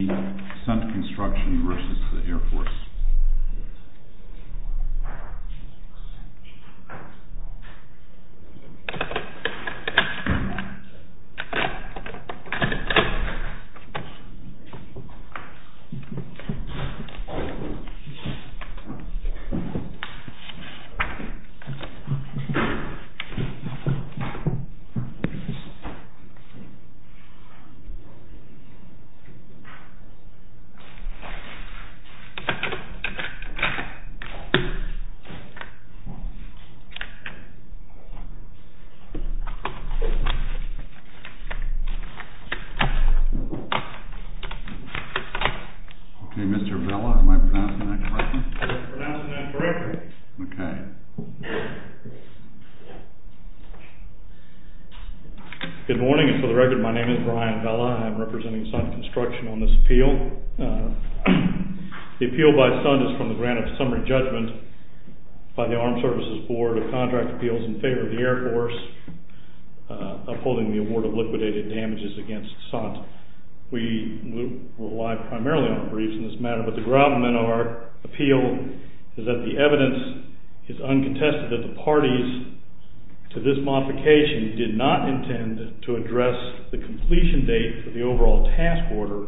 SUNDT CONSTRUCTION v. AIR FORCE ok Mr. Vela, am I pronouncing that correctly? You are pronouncing that correctly. Ok. Good morning and for the record my name is Brian Vela. I am representing Sun Construction on this appeal. The appeal by Sun is from the grant of summary judgment by the Armed Services Board of Contract Appeals in favor of the Air Force upholding the award of liquidated damages against Sun. We rely primarily on briefs in this matter, but the ground of our appeal is that the evidence is uncontested that the parties to this modification did not intend to address the completion date for the overall task order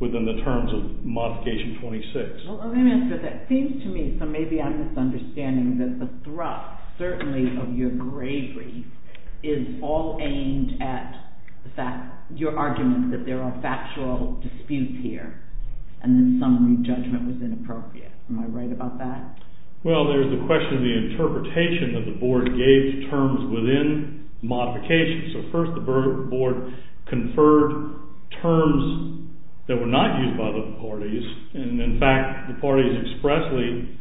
within the terms of modification 26. Well let me answer that. It seems to me, so maybe I'm misunderstanding, that the thrust, certainly of your gravely, is all aimed at the fact, your argument that there are factual disputes here and that summary judgment was inappropriate. Am I right about that? Well there's the question of the interpretation that the board gave to terms within modification. So first the board conferred terms that were not used by the parties and in fact the parties expressly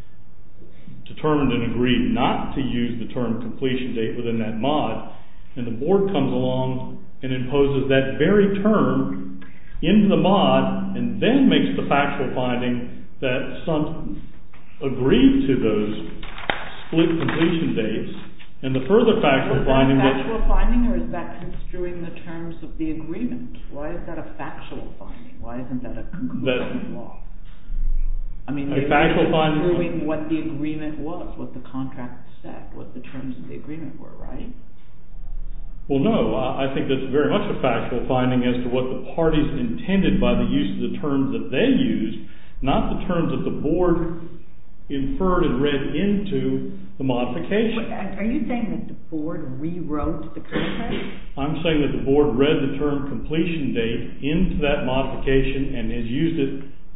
determined and agreed not to use the term completion date within that mod and the board comes along and imposes that very term in the mod and then makes the factual finding that Sun agreed to those split completion dates Is that a factual finding or is that construing the terms of the agreement? Why is that a factual finding? Why isn't that a conclusion law? I mean it's construing what the agreement was, what the contract said, what the terms of the agreement were, right? Well no, I think that's very much a factual finding as to what the parties intended by the use of the terms that they used, not the terms that the board inferred and read into the modification. Are you saying that the board rewrote the contract? I'm saying that the board read the term completion date into that modification and has used it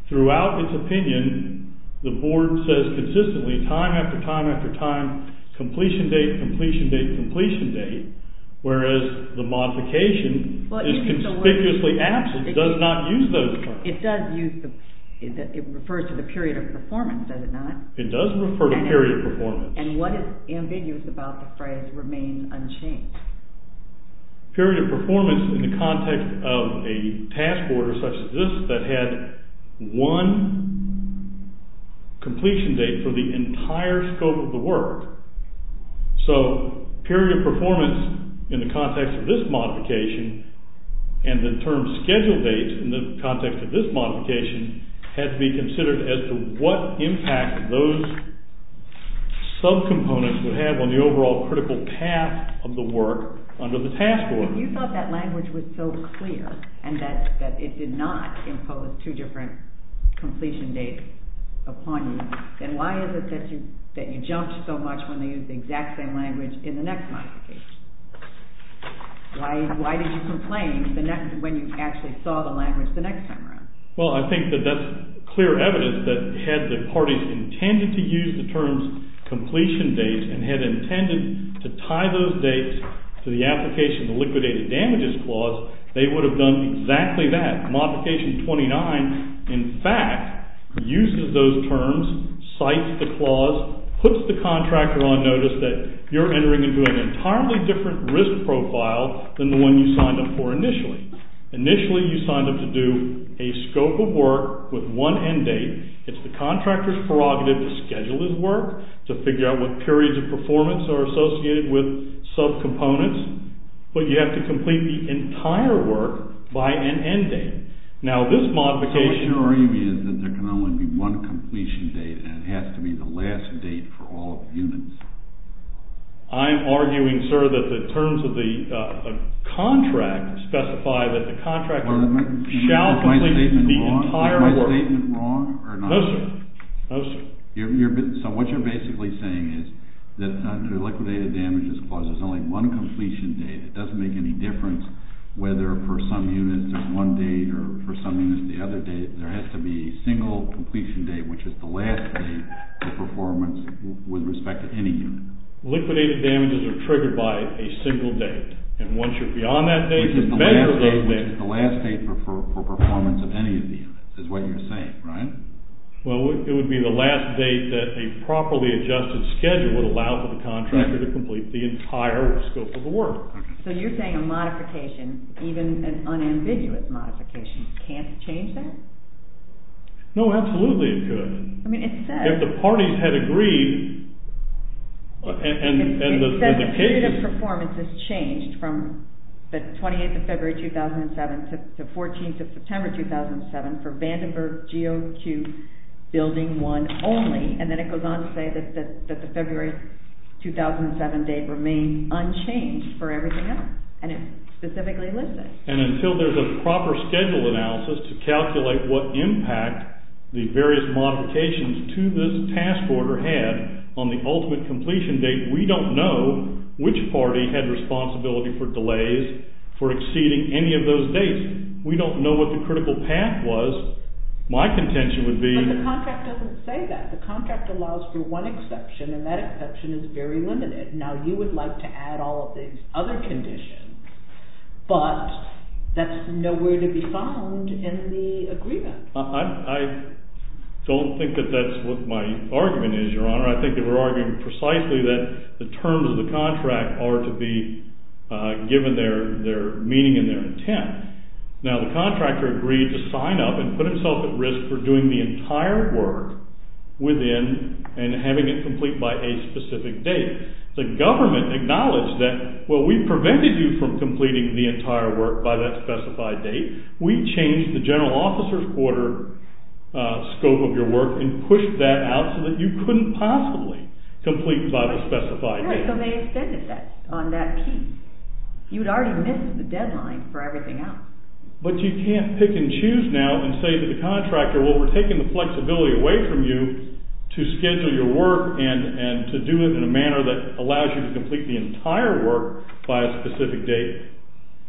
throughout its opinion. The board says consistently time after time after time, completion date, completion date, completion date, whereas the modification is conspicuously absent. It does not use those terms. It does use, it refers to the period of performance, does it not? It does refer to period performance. And what is ambiguous about the phrase remain unchanged? Period of performance in the context of a task order such as this that had one completion date for the entire scope of the work. So period of performance in the context of this modification and the term schedule date in the context of this modification had to be considered as to what impact those sub-components would have on the overall critical path of the work under the task order. If you thought that language was so clear and that it did not impose two different completion dates upon you, then why is it that you jumped so much when they used the exact same language in the next modification? Why did you complain when you actually saw the language the next time around? Well, I think that that's clear evidence that had the parties intended to use the terms completion date and had intended to tie those dates to the application of the liquidated damages clause, they would have done exactly that. Modification 29, in fact, uses those terms, cites the clause, puts the contractor on notice that you're entering into an entirely different risk profile than the one you signed up for initially. Initially, you signed up to do a scope of work with one end date. It's the contractor's prerogative to schedule his work, to figure out what periods of performance are associated with sub-components, but you have to complete the entire work by an end date. Now, this modification... So what you're arguing is that there can only be one completion date and it has to be the last date for all units. I'm arguing, sir, that the terms of the contract specify that the contractor shall complete the entire work. Is my statement wrong or not? No, sir. No, sir. So what you're basically saying is that under the liquidated damages clause, there's only one completion date. Liquidated damages are triggered by a single date, and once you're beyond that date, you measure those dates. Which is the last date for performance of any of the units, is what you're saying, right? Well, it would be the last date that a properly adjusted schedule would allow for the contractor to complete the entire scope of the work. So you're saying a modification, even an unambiguous modification, can't change that? No, absolutely it could. If the parties had agreed... It says the period of performance has changed from the 28th of February 2007 to 14th of September 2007 for Vandenberg GOQ Building 1 only, and then it goes on to say that the February 2007 date remained unchanged for everything else, and it specifically lists it. And until there's a proper schedule analysis to calculate what impact the various modifications to this task order had on the ultimate completion date, we don't know which party had responsibility for delays for exceeding any of those dates. We don't know what the critical path was. My contention would be... But the contract doesn't say that. The contract allows for one exception, and that exception is very limited. Now, you would like to add all of the other conditions, but that's nowhere to be found in the agreement. I don't think that that's what my argument is, Your Honor. I think that we're arguing precisely that the terms of the contract are to be given their meaning and their intent. Now, the contractor agreed to sign up and put himself at risk for doing the entire work within and having it complete by a specific date. The government acknowledged that, well, we prevented you from completing the entire work by that specified date. We changed the general officer's order scope of your work and pushed that out so that you couldn't possibly complete by the specified date. So they extended that on that key. You'd already missed the deadline for everything else. But you can't pick and choose now and say to the contractor, well, we're taking the flexibility away from you to schedule your work and to do it in a manner that allows you to complete the entire work by a specific date.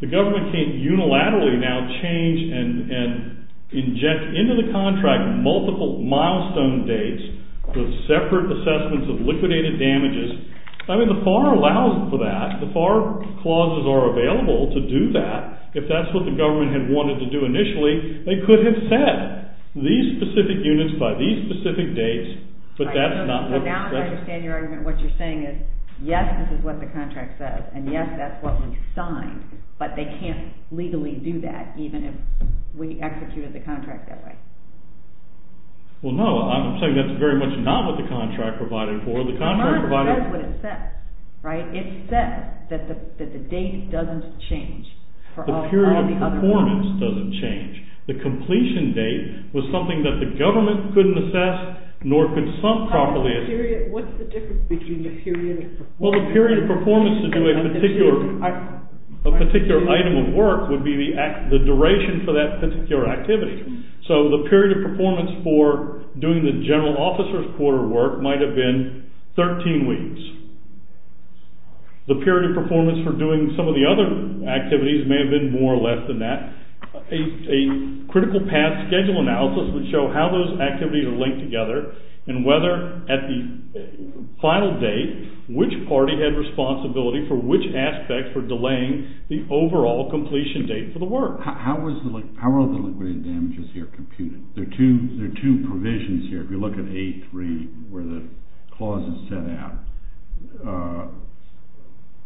The government can't unilaterally now change and inject into the contract multiple milestone dates with separate assessments of liquidated damages. I mean, the FAR allows for that. The FAR clauses are available to do that. If that's what the government had wanted to do initially, they could have set these specific units by these specific dates, but that's not what... So now I understand your argument. What you're saying is, yes, this is what the contract says, and yes, that's what we signed, but they can't legally do that even if we executed the contract that way. Well, no, I'm saying that's very much not what the contract provided for. It says what it says, right? It says that the date doesn't change. The period of performance doesn't change. The completion date was something that the government couldn't assess nor consult properly... What's the difference between the period of performance... Well, the period of performance to do a particular item of work would be the duration for that particular activity. So the period of performance for doing the general officer's quarter work might have been 13 weeks. The period of performance for doing some of the other activities may have been more or less than that. A critical path schedule analysis would show how those activities are linked together and whether at the final date, which party had responsibility for which aspect for delaying the overall completion date for the work. How are the liquidated damages here computed? There are two provisions here. If you look at A3 where the clause is set out,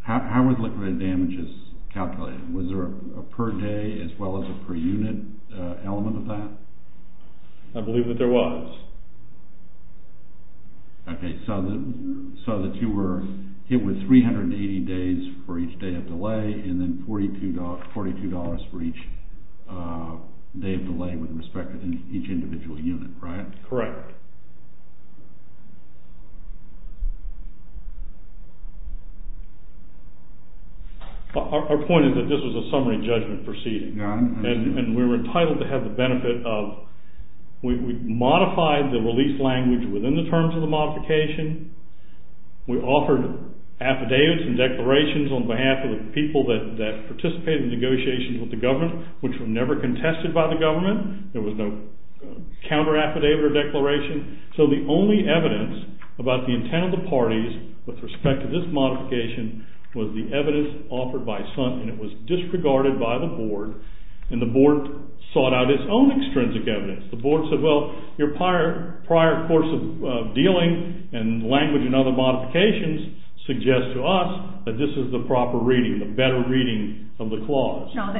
how are the liquidated damages calculated? Was there a per day as well as a per unit element of that? I believe that there was. Okay, so the two were hit with 380 days for each day of delay and then $42 for each day of delay with respect to each individual unit, right? Correct. Our point is that this was a summary judgment proceeding. And we were entitled to have the benefit of, we modified the release language within the terms of the modification. We offered affidavits and declarations on behalf of the people that participated in negotiations with the government, which were never contested by the government. There was no counter affidavit or declaration. So the only evidence about the intent of the parties with respect to this modification was the evidence offered by SUNT, and it was disregarded by the board, and the board sought out its own extrinsic evidence. The board said, well, your prior course of dealing and language and other modifications suggest to us that this is the proper reading, the better reading of the clause. No,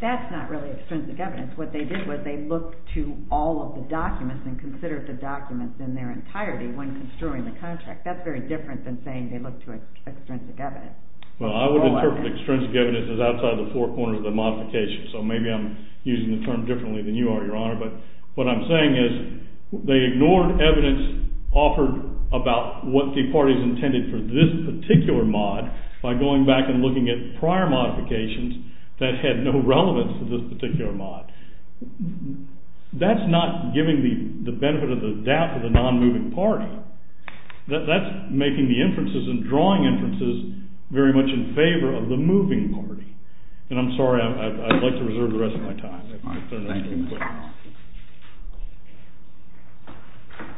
that's not really extrinsic evidence. What they did was they looked to all of the documents and considered the documents in their entirety when construing the contract. That's very different than saying they looked to extrinsic evidence. Well, I would interpret extrinsic evidence as outside the four corners of the modification. So maybe I'm using the term differently than you are, Your Honor. But what I'm saying is they ignored evidence offered about what the parties intended for this particular mod by going back and looking at prior modifications that had no relevance to this particular mod. That's not giving the benefit of the doubt to the non-moving party. That's making the inferences and drawing inferences very much in favor of the moving party. And I'm sorry, I'd like to reserve the rest of my time. Thank you, Your Honor.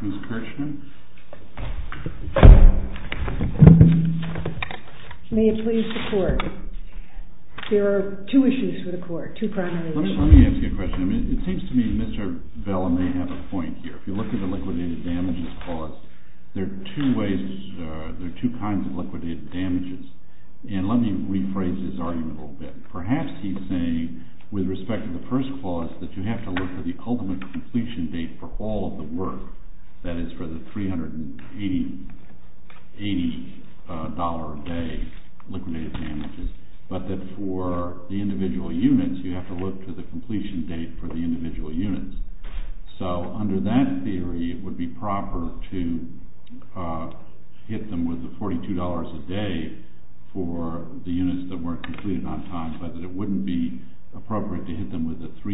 Ms. Kirshner? May it please the Court. There are two issues for the Court, two primary issues. Let me ask you a question. It seems to me Mr. Bell may have a point here. If you look at the liquidated damages clause, there are two kinds of liquidated damages. And let me rephrase his argument a little bit. Perhaps he's saying, with respect to the first clause, that you have to look for the ultimate completion date for all of the work, that is for the $380 a day liquidated damages, but that for the individual units you have to look for the completion date for the individual units. So under that theory, it would be proper to hit them with the $42 a day for the units that weren't completed on time, but that it wouldn't be appropriate to hit them with the $380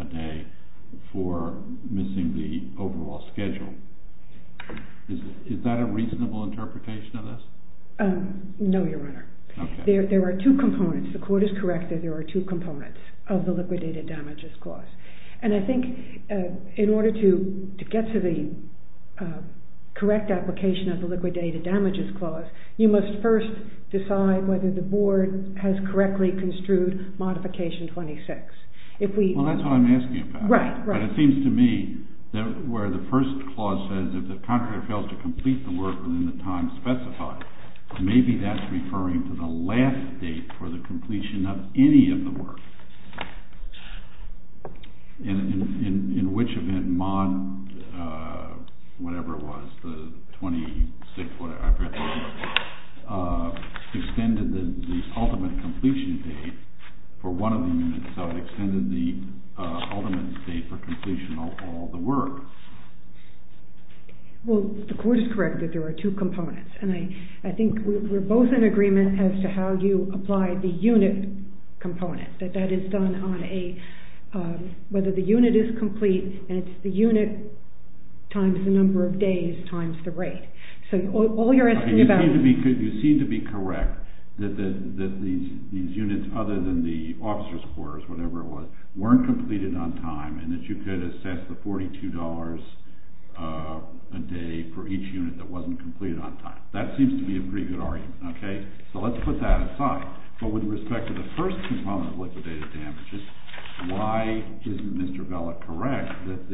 a day for missing the overall schedule. Is that a reasonable interpretation of this? No, Your Honor. There are two components. The Court is correct that there are two components of the liquidated damages clause. And I think in order to get to the correct application of the liquidated damages clause, you must first decide whether the Board has correctly construed Modification 26. Well, that's what I'm asking about. Right, right. But it seems to me that where the first clause says if the contractor fails to complete the work within the time specified, maybe that's referring to the last date for the completion of any of the work. In which event Mod, whatever it was, the 26th, whatever, extended the ultimate completion date for one of the units, so it extended the ultimate date for completion of all the work? Well, the Court is correct that there are two components. And I think we're both in agreement as to how you apply the unit component, that that is done on a, whether the unit is complete, and it's the unit times the number of days times the rate. So all you're asking about— You seem to be correct that these units, other than the officer's quarters, whatever it was, weren't completed on time, and that you could assess the $42 a day for each unit that wasn't completed on time. That seems to be a pretty good argument, okay? So let's put that aside. But with respect to the first component of liquidated damages, why isn't Mr. Bella correct that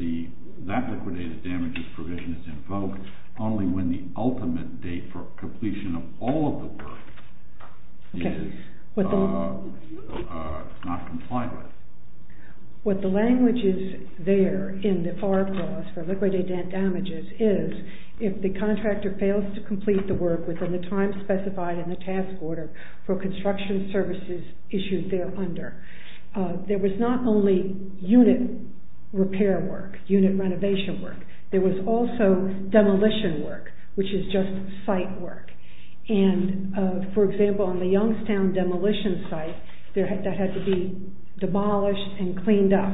that liquidated damages provision is invoked only when the ultimate date for completion of all of the work is not complied with? What the language is there in the FAR clause for liquidated damages is if the contractor fails to complete the work within the time specified in the task order for construction services issued there under. There was not only unit repair work, unit renovation work. There was also demolition work, which is just site work. And, for example, on the Youngstown demolition site, that had to be demolished and cleaned up.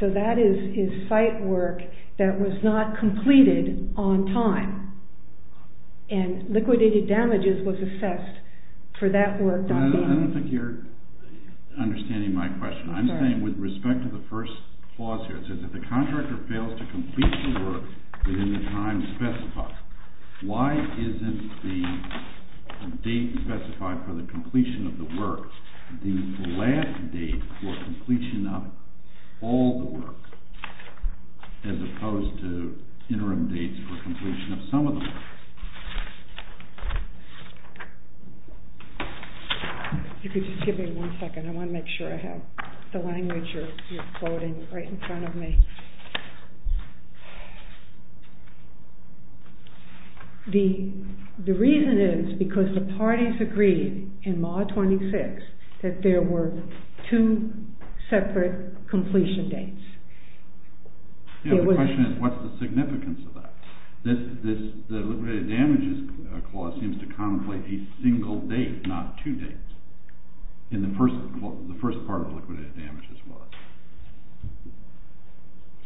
So that is site work that was not completed on time, and liquidated damages was assessed for that work. I don't think you're understanding my question. I'm saying with respect to the first clause here, it says if the contractor fails to complete the work within the time specified, why isn't the date specified for the completion of the work the last date for completion of all the work, as opposed to interim dates for completion of some of the work? You could just give me one second. I want to make sure I have the language you're quoting right in front of me. The reason is because the parties agreed in Maw 26 that there were two separate completion dates. The question is, what's the significance of that? The liquidated damages clause seems to contemplate a single date, not two dates, in the first part of liquidated damages work.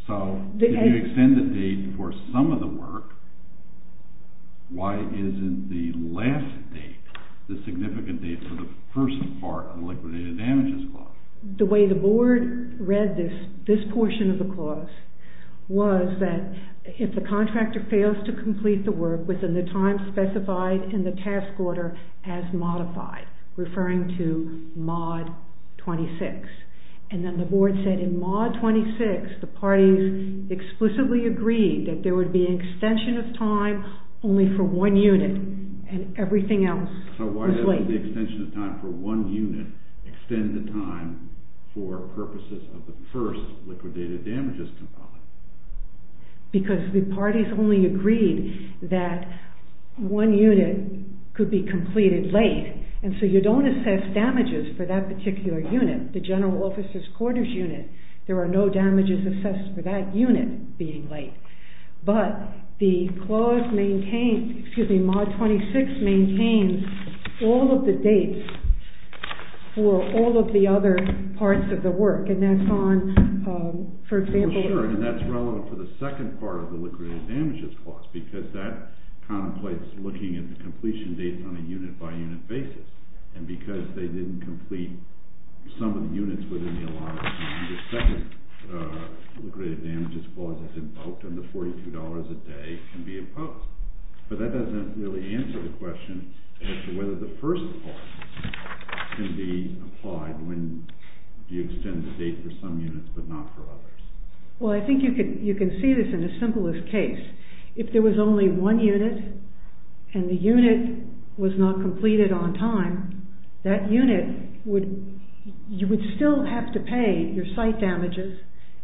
So if you extend the date for some of the work, why isn't the last date the significant date for the first part of the liquidated damages clause? The way the board read this portion of the clause was that if the contractor fails to complete the work within the time specified in the task order as modified, referring to Maw 26, and then the board said in Maw 26 the parties explicitly agreed that there would be an extension of time only for one unit, and everything else was late. So why doesn't the extension of time for one unit extend the time for purposes of the first liquidated damages clause? Because the parties only agreed that one unit could be completed late, and so you don't assess damages for that particular unit, the general officer's quarters unit, there are no damages assessed for that unit being late. But the clause maintains, excuse me, Maw 26 maintains all of the dates for all of the other parts of the work, and that's on, for example... Sure, and that's relevant for the second part of the liquidated damages clause because that contemplates looking at the completion date on a unit-by-unit basis, and because they didn't complete some of the units within the allotted time, the second liquidated damages clause is invoked, and the $42 a day can be imposed. But that doesn't really answer the question as to whether the first clause can be applied when you extend the date for some units but not for others. Well, I think you can see this in the simplest case. If there was only one unit and the unit was not completed on time, that unit would... You would still have to pay your site damages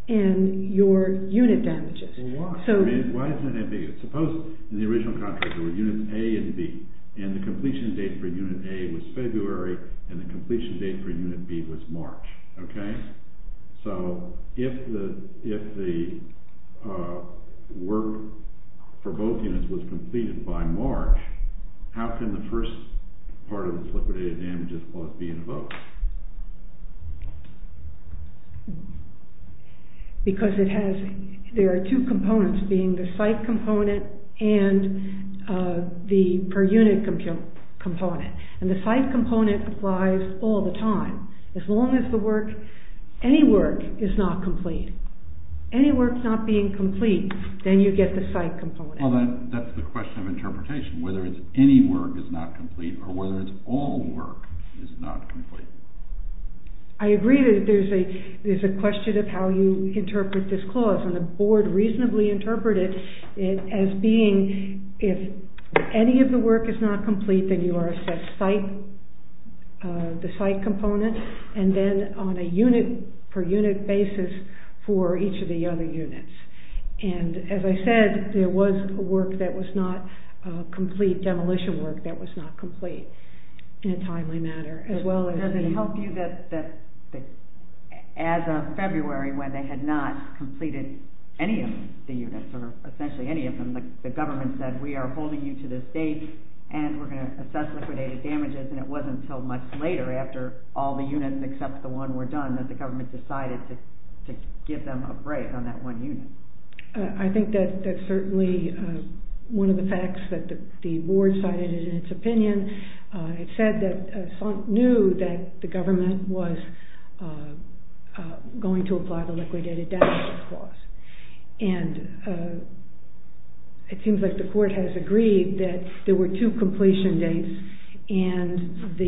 and your unit damages. Well, why? I mean, why is that ambiguous? Suppose in the original contract there were units A and B, and the completion date for unit A was February and the completion date for unit B was March, okay? So if the work for both units was completed by March, how can the first part of this liquidated damages clause be invoked? Because it has... There are two components being the site component and the per-unit component, and the site component applies all the time. As long as the work, any work, is not complete. Any work not being complete, then you get the site component. Well, that's the question of interpretation, whether it's any work that's not complete or whether it's all work that's not complete. I agree that there's a question of how you interpret this clause, and the board reasonably interpreted it as being if any of the work is not complete, then you are assessed the site component, and then on a unit-per-unit basis for each of the other units. And as I said, there was a work that was not complete, demolition work that was not complete in a timely manner, as well as the... Does it help you that as of February, when they had not completed any of the units, or essentially any of them, the government said, We are holding you to this date, and we're going to assess liquidated damages, and it wasn't until much later, after all the units except the one were done, that the government decided to give them a break on that one unit. I think that's certainly one of the facts that the board cited in its opinion. It said that SONC knew that the government was going to apply the liquidated damages clause. And it seems like the court has agreed that there were two completion dates, and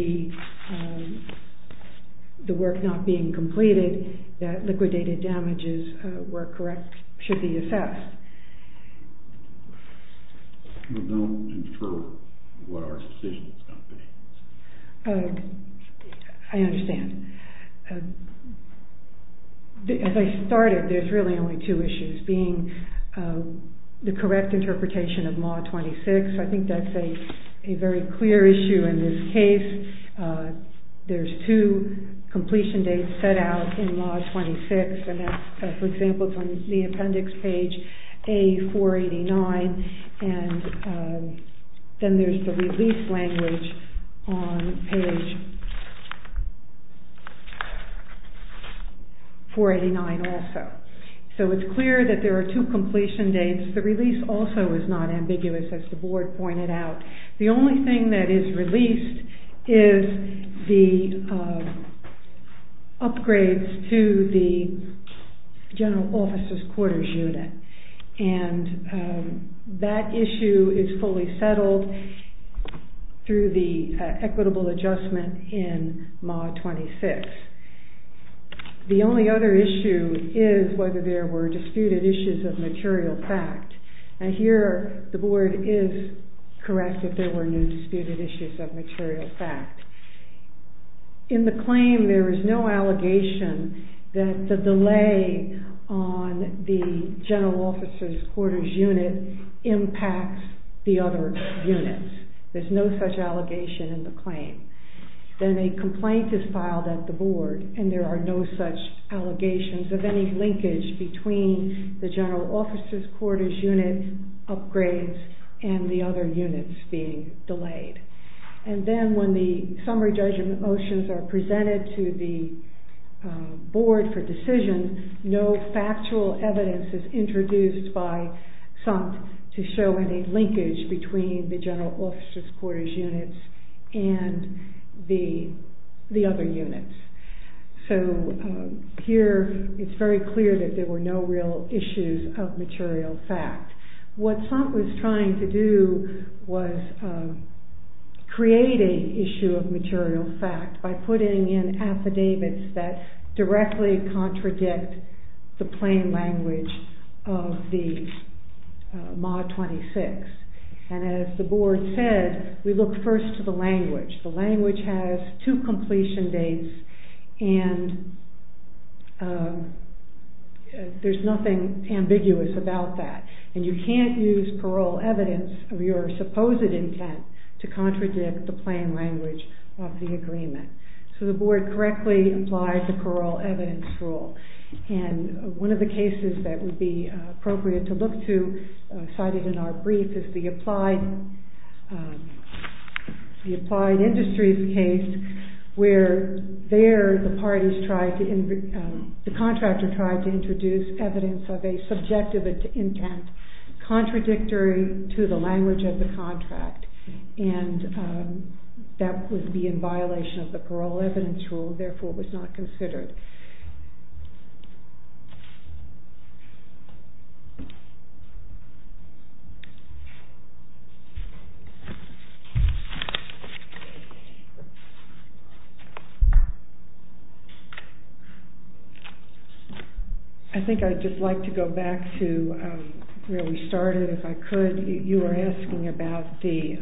the work not being completed, that liquidated damages were correct, should be assessed. We don't infer what our decision is going to be. I understand. As I started, there's really only two issues, being the correct interpretation of Mod 26. I think that's a very clear issue in this case. There's two completion dates set out in Mod 26. For example, it's on the appendix page A489, and then there's the release language on page 489 also. So it's clear that there are two completion dates. The release also is not ambiguous, as the board pointed out. The only thing that is released is the upgrades to the general officer's quarters unit. And that issue is fully settled through the equitable adjustment in Mod 26. The only other issue is whether there were disputed issues of material fact. And here, the board is correct if there were no disputed issues of material fact. In the claim, there is no allegation that the delay on the general officer's quarters unit impacts the other units. There's no such allegation in the claim. Then a complaint is filed at the board, and there are no such allegations of any linkage between the general officer's quarters unit upgrades and the other units being delayed. And then when the summary judgment motions are presented to the board for decision, no factual evidence is introduced by SOMPT to show any linkage between the general officer's quarters units and the other units. So here, it's very clear that there were no real issues of material fact. by putting in affidavits that directly contradict the plain language of the Mod 26. And as the board said, we look first to the language. The language has two completion dates, and there's nothing ambiguous about that. And you can't use parole evidence of your supposed intent to contradict the plain language of the agreement. So the board correctly applied the parole evidence rule. And one of the cases that would be appropriate to look to, cited in our brief, is the Applied Industries case, where there, the contractor tried to introduce evidence of a subjective intent contradictory to the language of the contract. And that would be in violation of the parole evidence rule, therefore it was not considered. I think I'd just like to go back to where we started, if I could. You were asking about the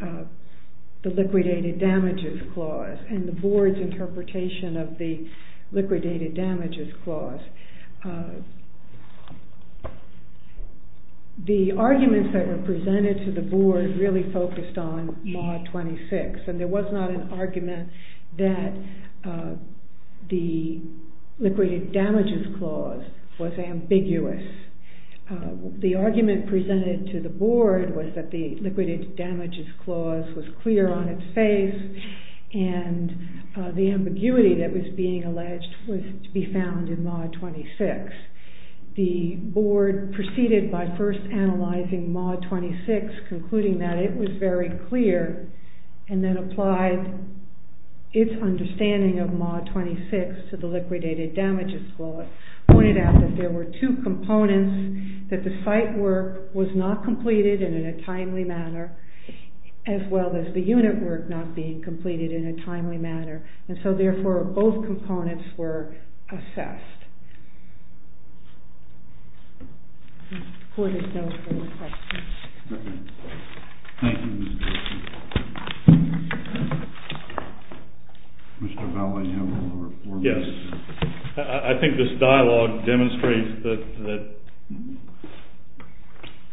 Liquidated Damages Clause and the board's interpretation of the Liquidated Damages Clause. The arguments that were presented to the board really focused on Mod 26, and there was not an argument that the Liquidated Damages Clause was ambiguous. The argument presented to the board was that the Liquidated Damages Clause was clear on its face, and the ambiguity that was being alleged was to be found in Mod 26. The board proceeded by first analyzing Mod 26, concluding that it was very clear, and then applied its understanding of Mod 26 to the Liquidated Damages Clause, but pointed out that there were two components, that the site work was not completed in a timely manner, as well as the unit work not being completed in a timely manner, and so therefore both components were assessed. The board is now open for questions. Thank you, Ms. Dixon. Mr. Bally, do you have a report? Yes. I think this dialogue demonstrates that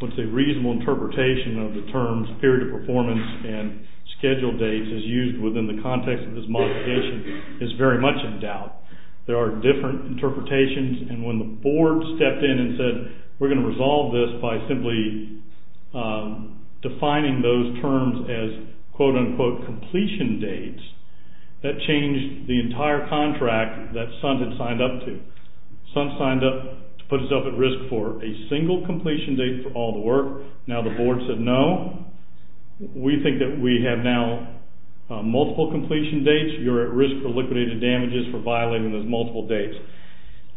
what's a reasonable interpretation of the terms period of performance and schedule dates is used within the context of this modification is very much in doubt. There are different interpretations, and when the board stepped in and said we're going to resolve this by simply defining those terms as quote-unquote completion dates, that changed the entire contract that Suns had signed up to. Suns signed up to put itself at risk for a single completion date for all the work. Now the board said no. We think that we have now multiple completion dates. You're at risk for liquidated damages for violating those multiple dates.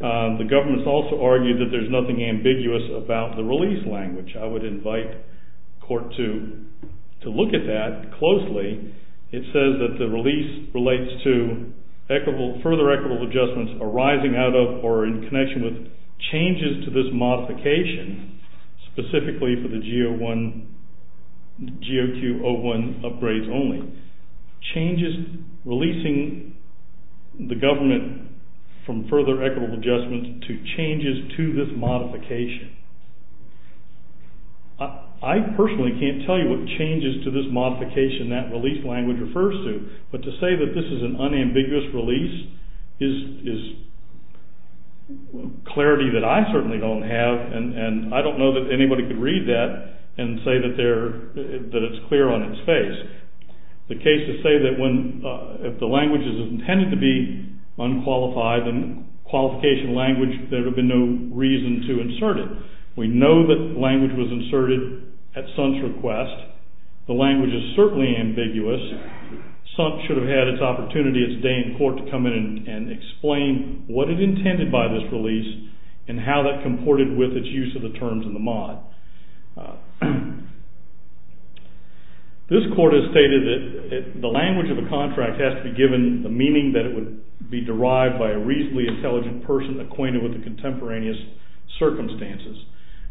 The government's also argued that there's nothing ambiguous about the release language. I would invite court to look at that closely. It says that the release relates to further equitable adjustments arising out of or in connection with changes to this modification, specifically for the GOQ-01 upgrades only. Releasing the government from further equitable adjustments to changes to this modification. I personally can't tell you what changes to this modification that release language refers to, but to say that this is an unambiguous release is clarity that I certainly don't have, and I don't know that anybody could read that and say that it's clear on its face. The cases say that if the language is intended to be unqualified, in a qualification language, there would be no reason to insert it. We know that the language was inserted at Suns' request. The language is certainly ambiguous. Suns should have had its day in court to come in and explain what it intended by this release and how that comported with its use of the terms in the mod. This court has stated that the language of a contract has to be given the meaning that it would be derived by a reasonably intelligent person acquainted with the contemporaneous circumstances.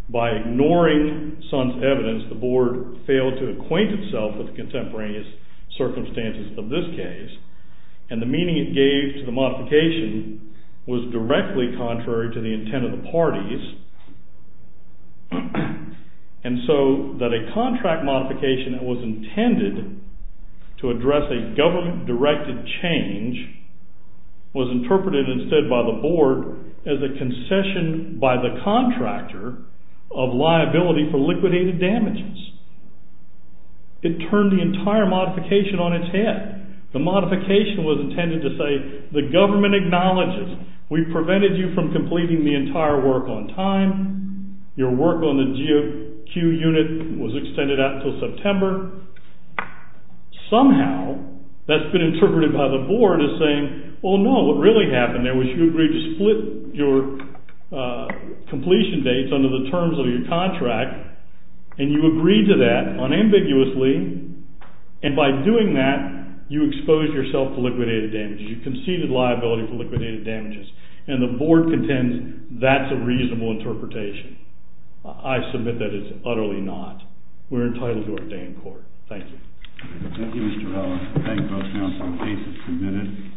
By ignoring Suns' evidence, the Board failed to acquaint itself with the contemporaneous circumstances of this case, and the meaning it gave to the modification was directly contrary to the intent of the parties, and so that a contract modification that was intended to address a government-directed change was interpreted instead by the Board as a concession by the contractor of liability for liquidated damages. It turned the entire modification on its head. The modification was intended to say, the government acknowledges we prevented you from completing the entire work on time, your work on the GOQ unit was extended out until September. Somehow, that's been interpreted by the Board as saying, oh no, what really happened there was you agreed to split your completion dates under the terms of your contract, and you agreed to that unambiguously, and by doing that, you exposed yourself to liquidated damages, you conceded liability for liquidated damages, and the Board contends that's a reasonable interpretation. I submit that it's utterly not. We're entitled to our day in court. Thank you. Thank you, Mr. Ellis. Thank you, both counsel. The case is submitted.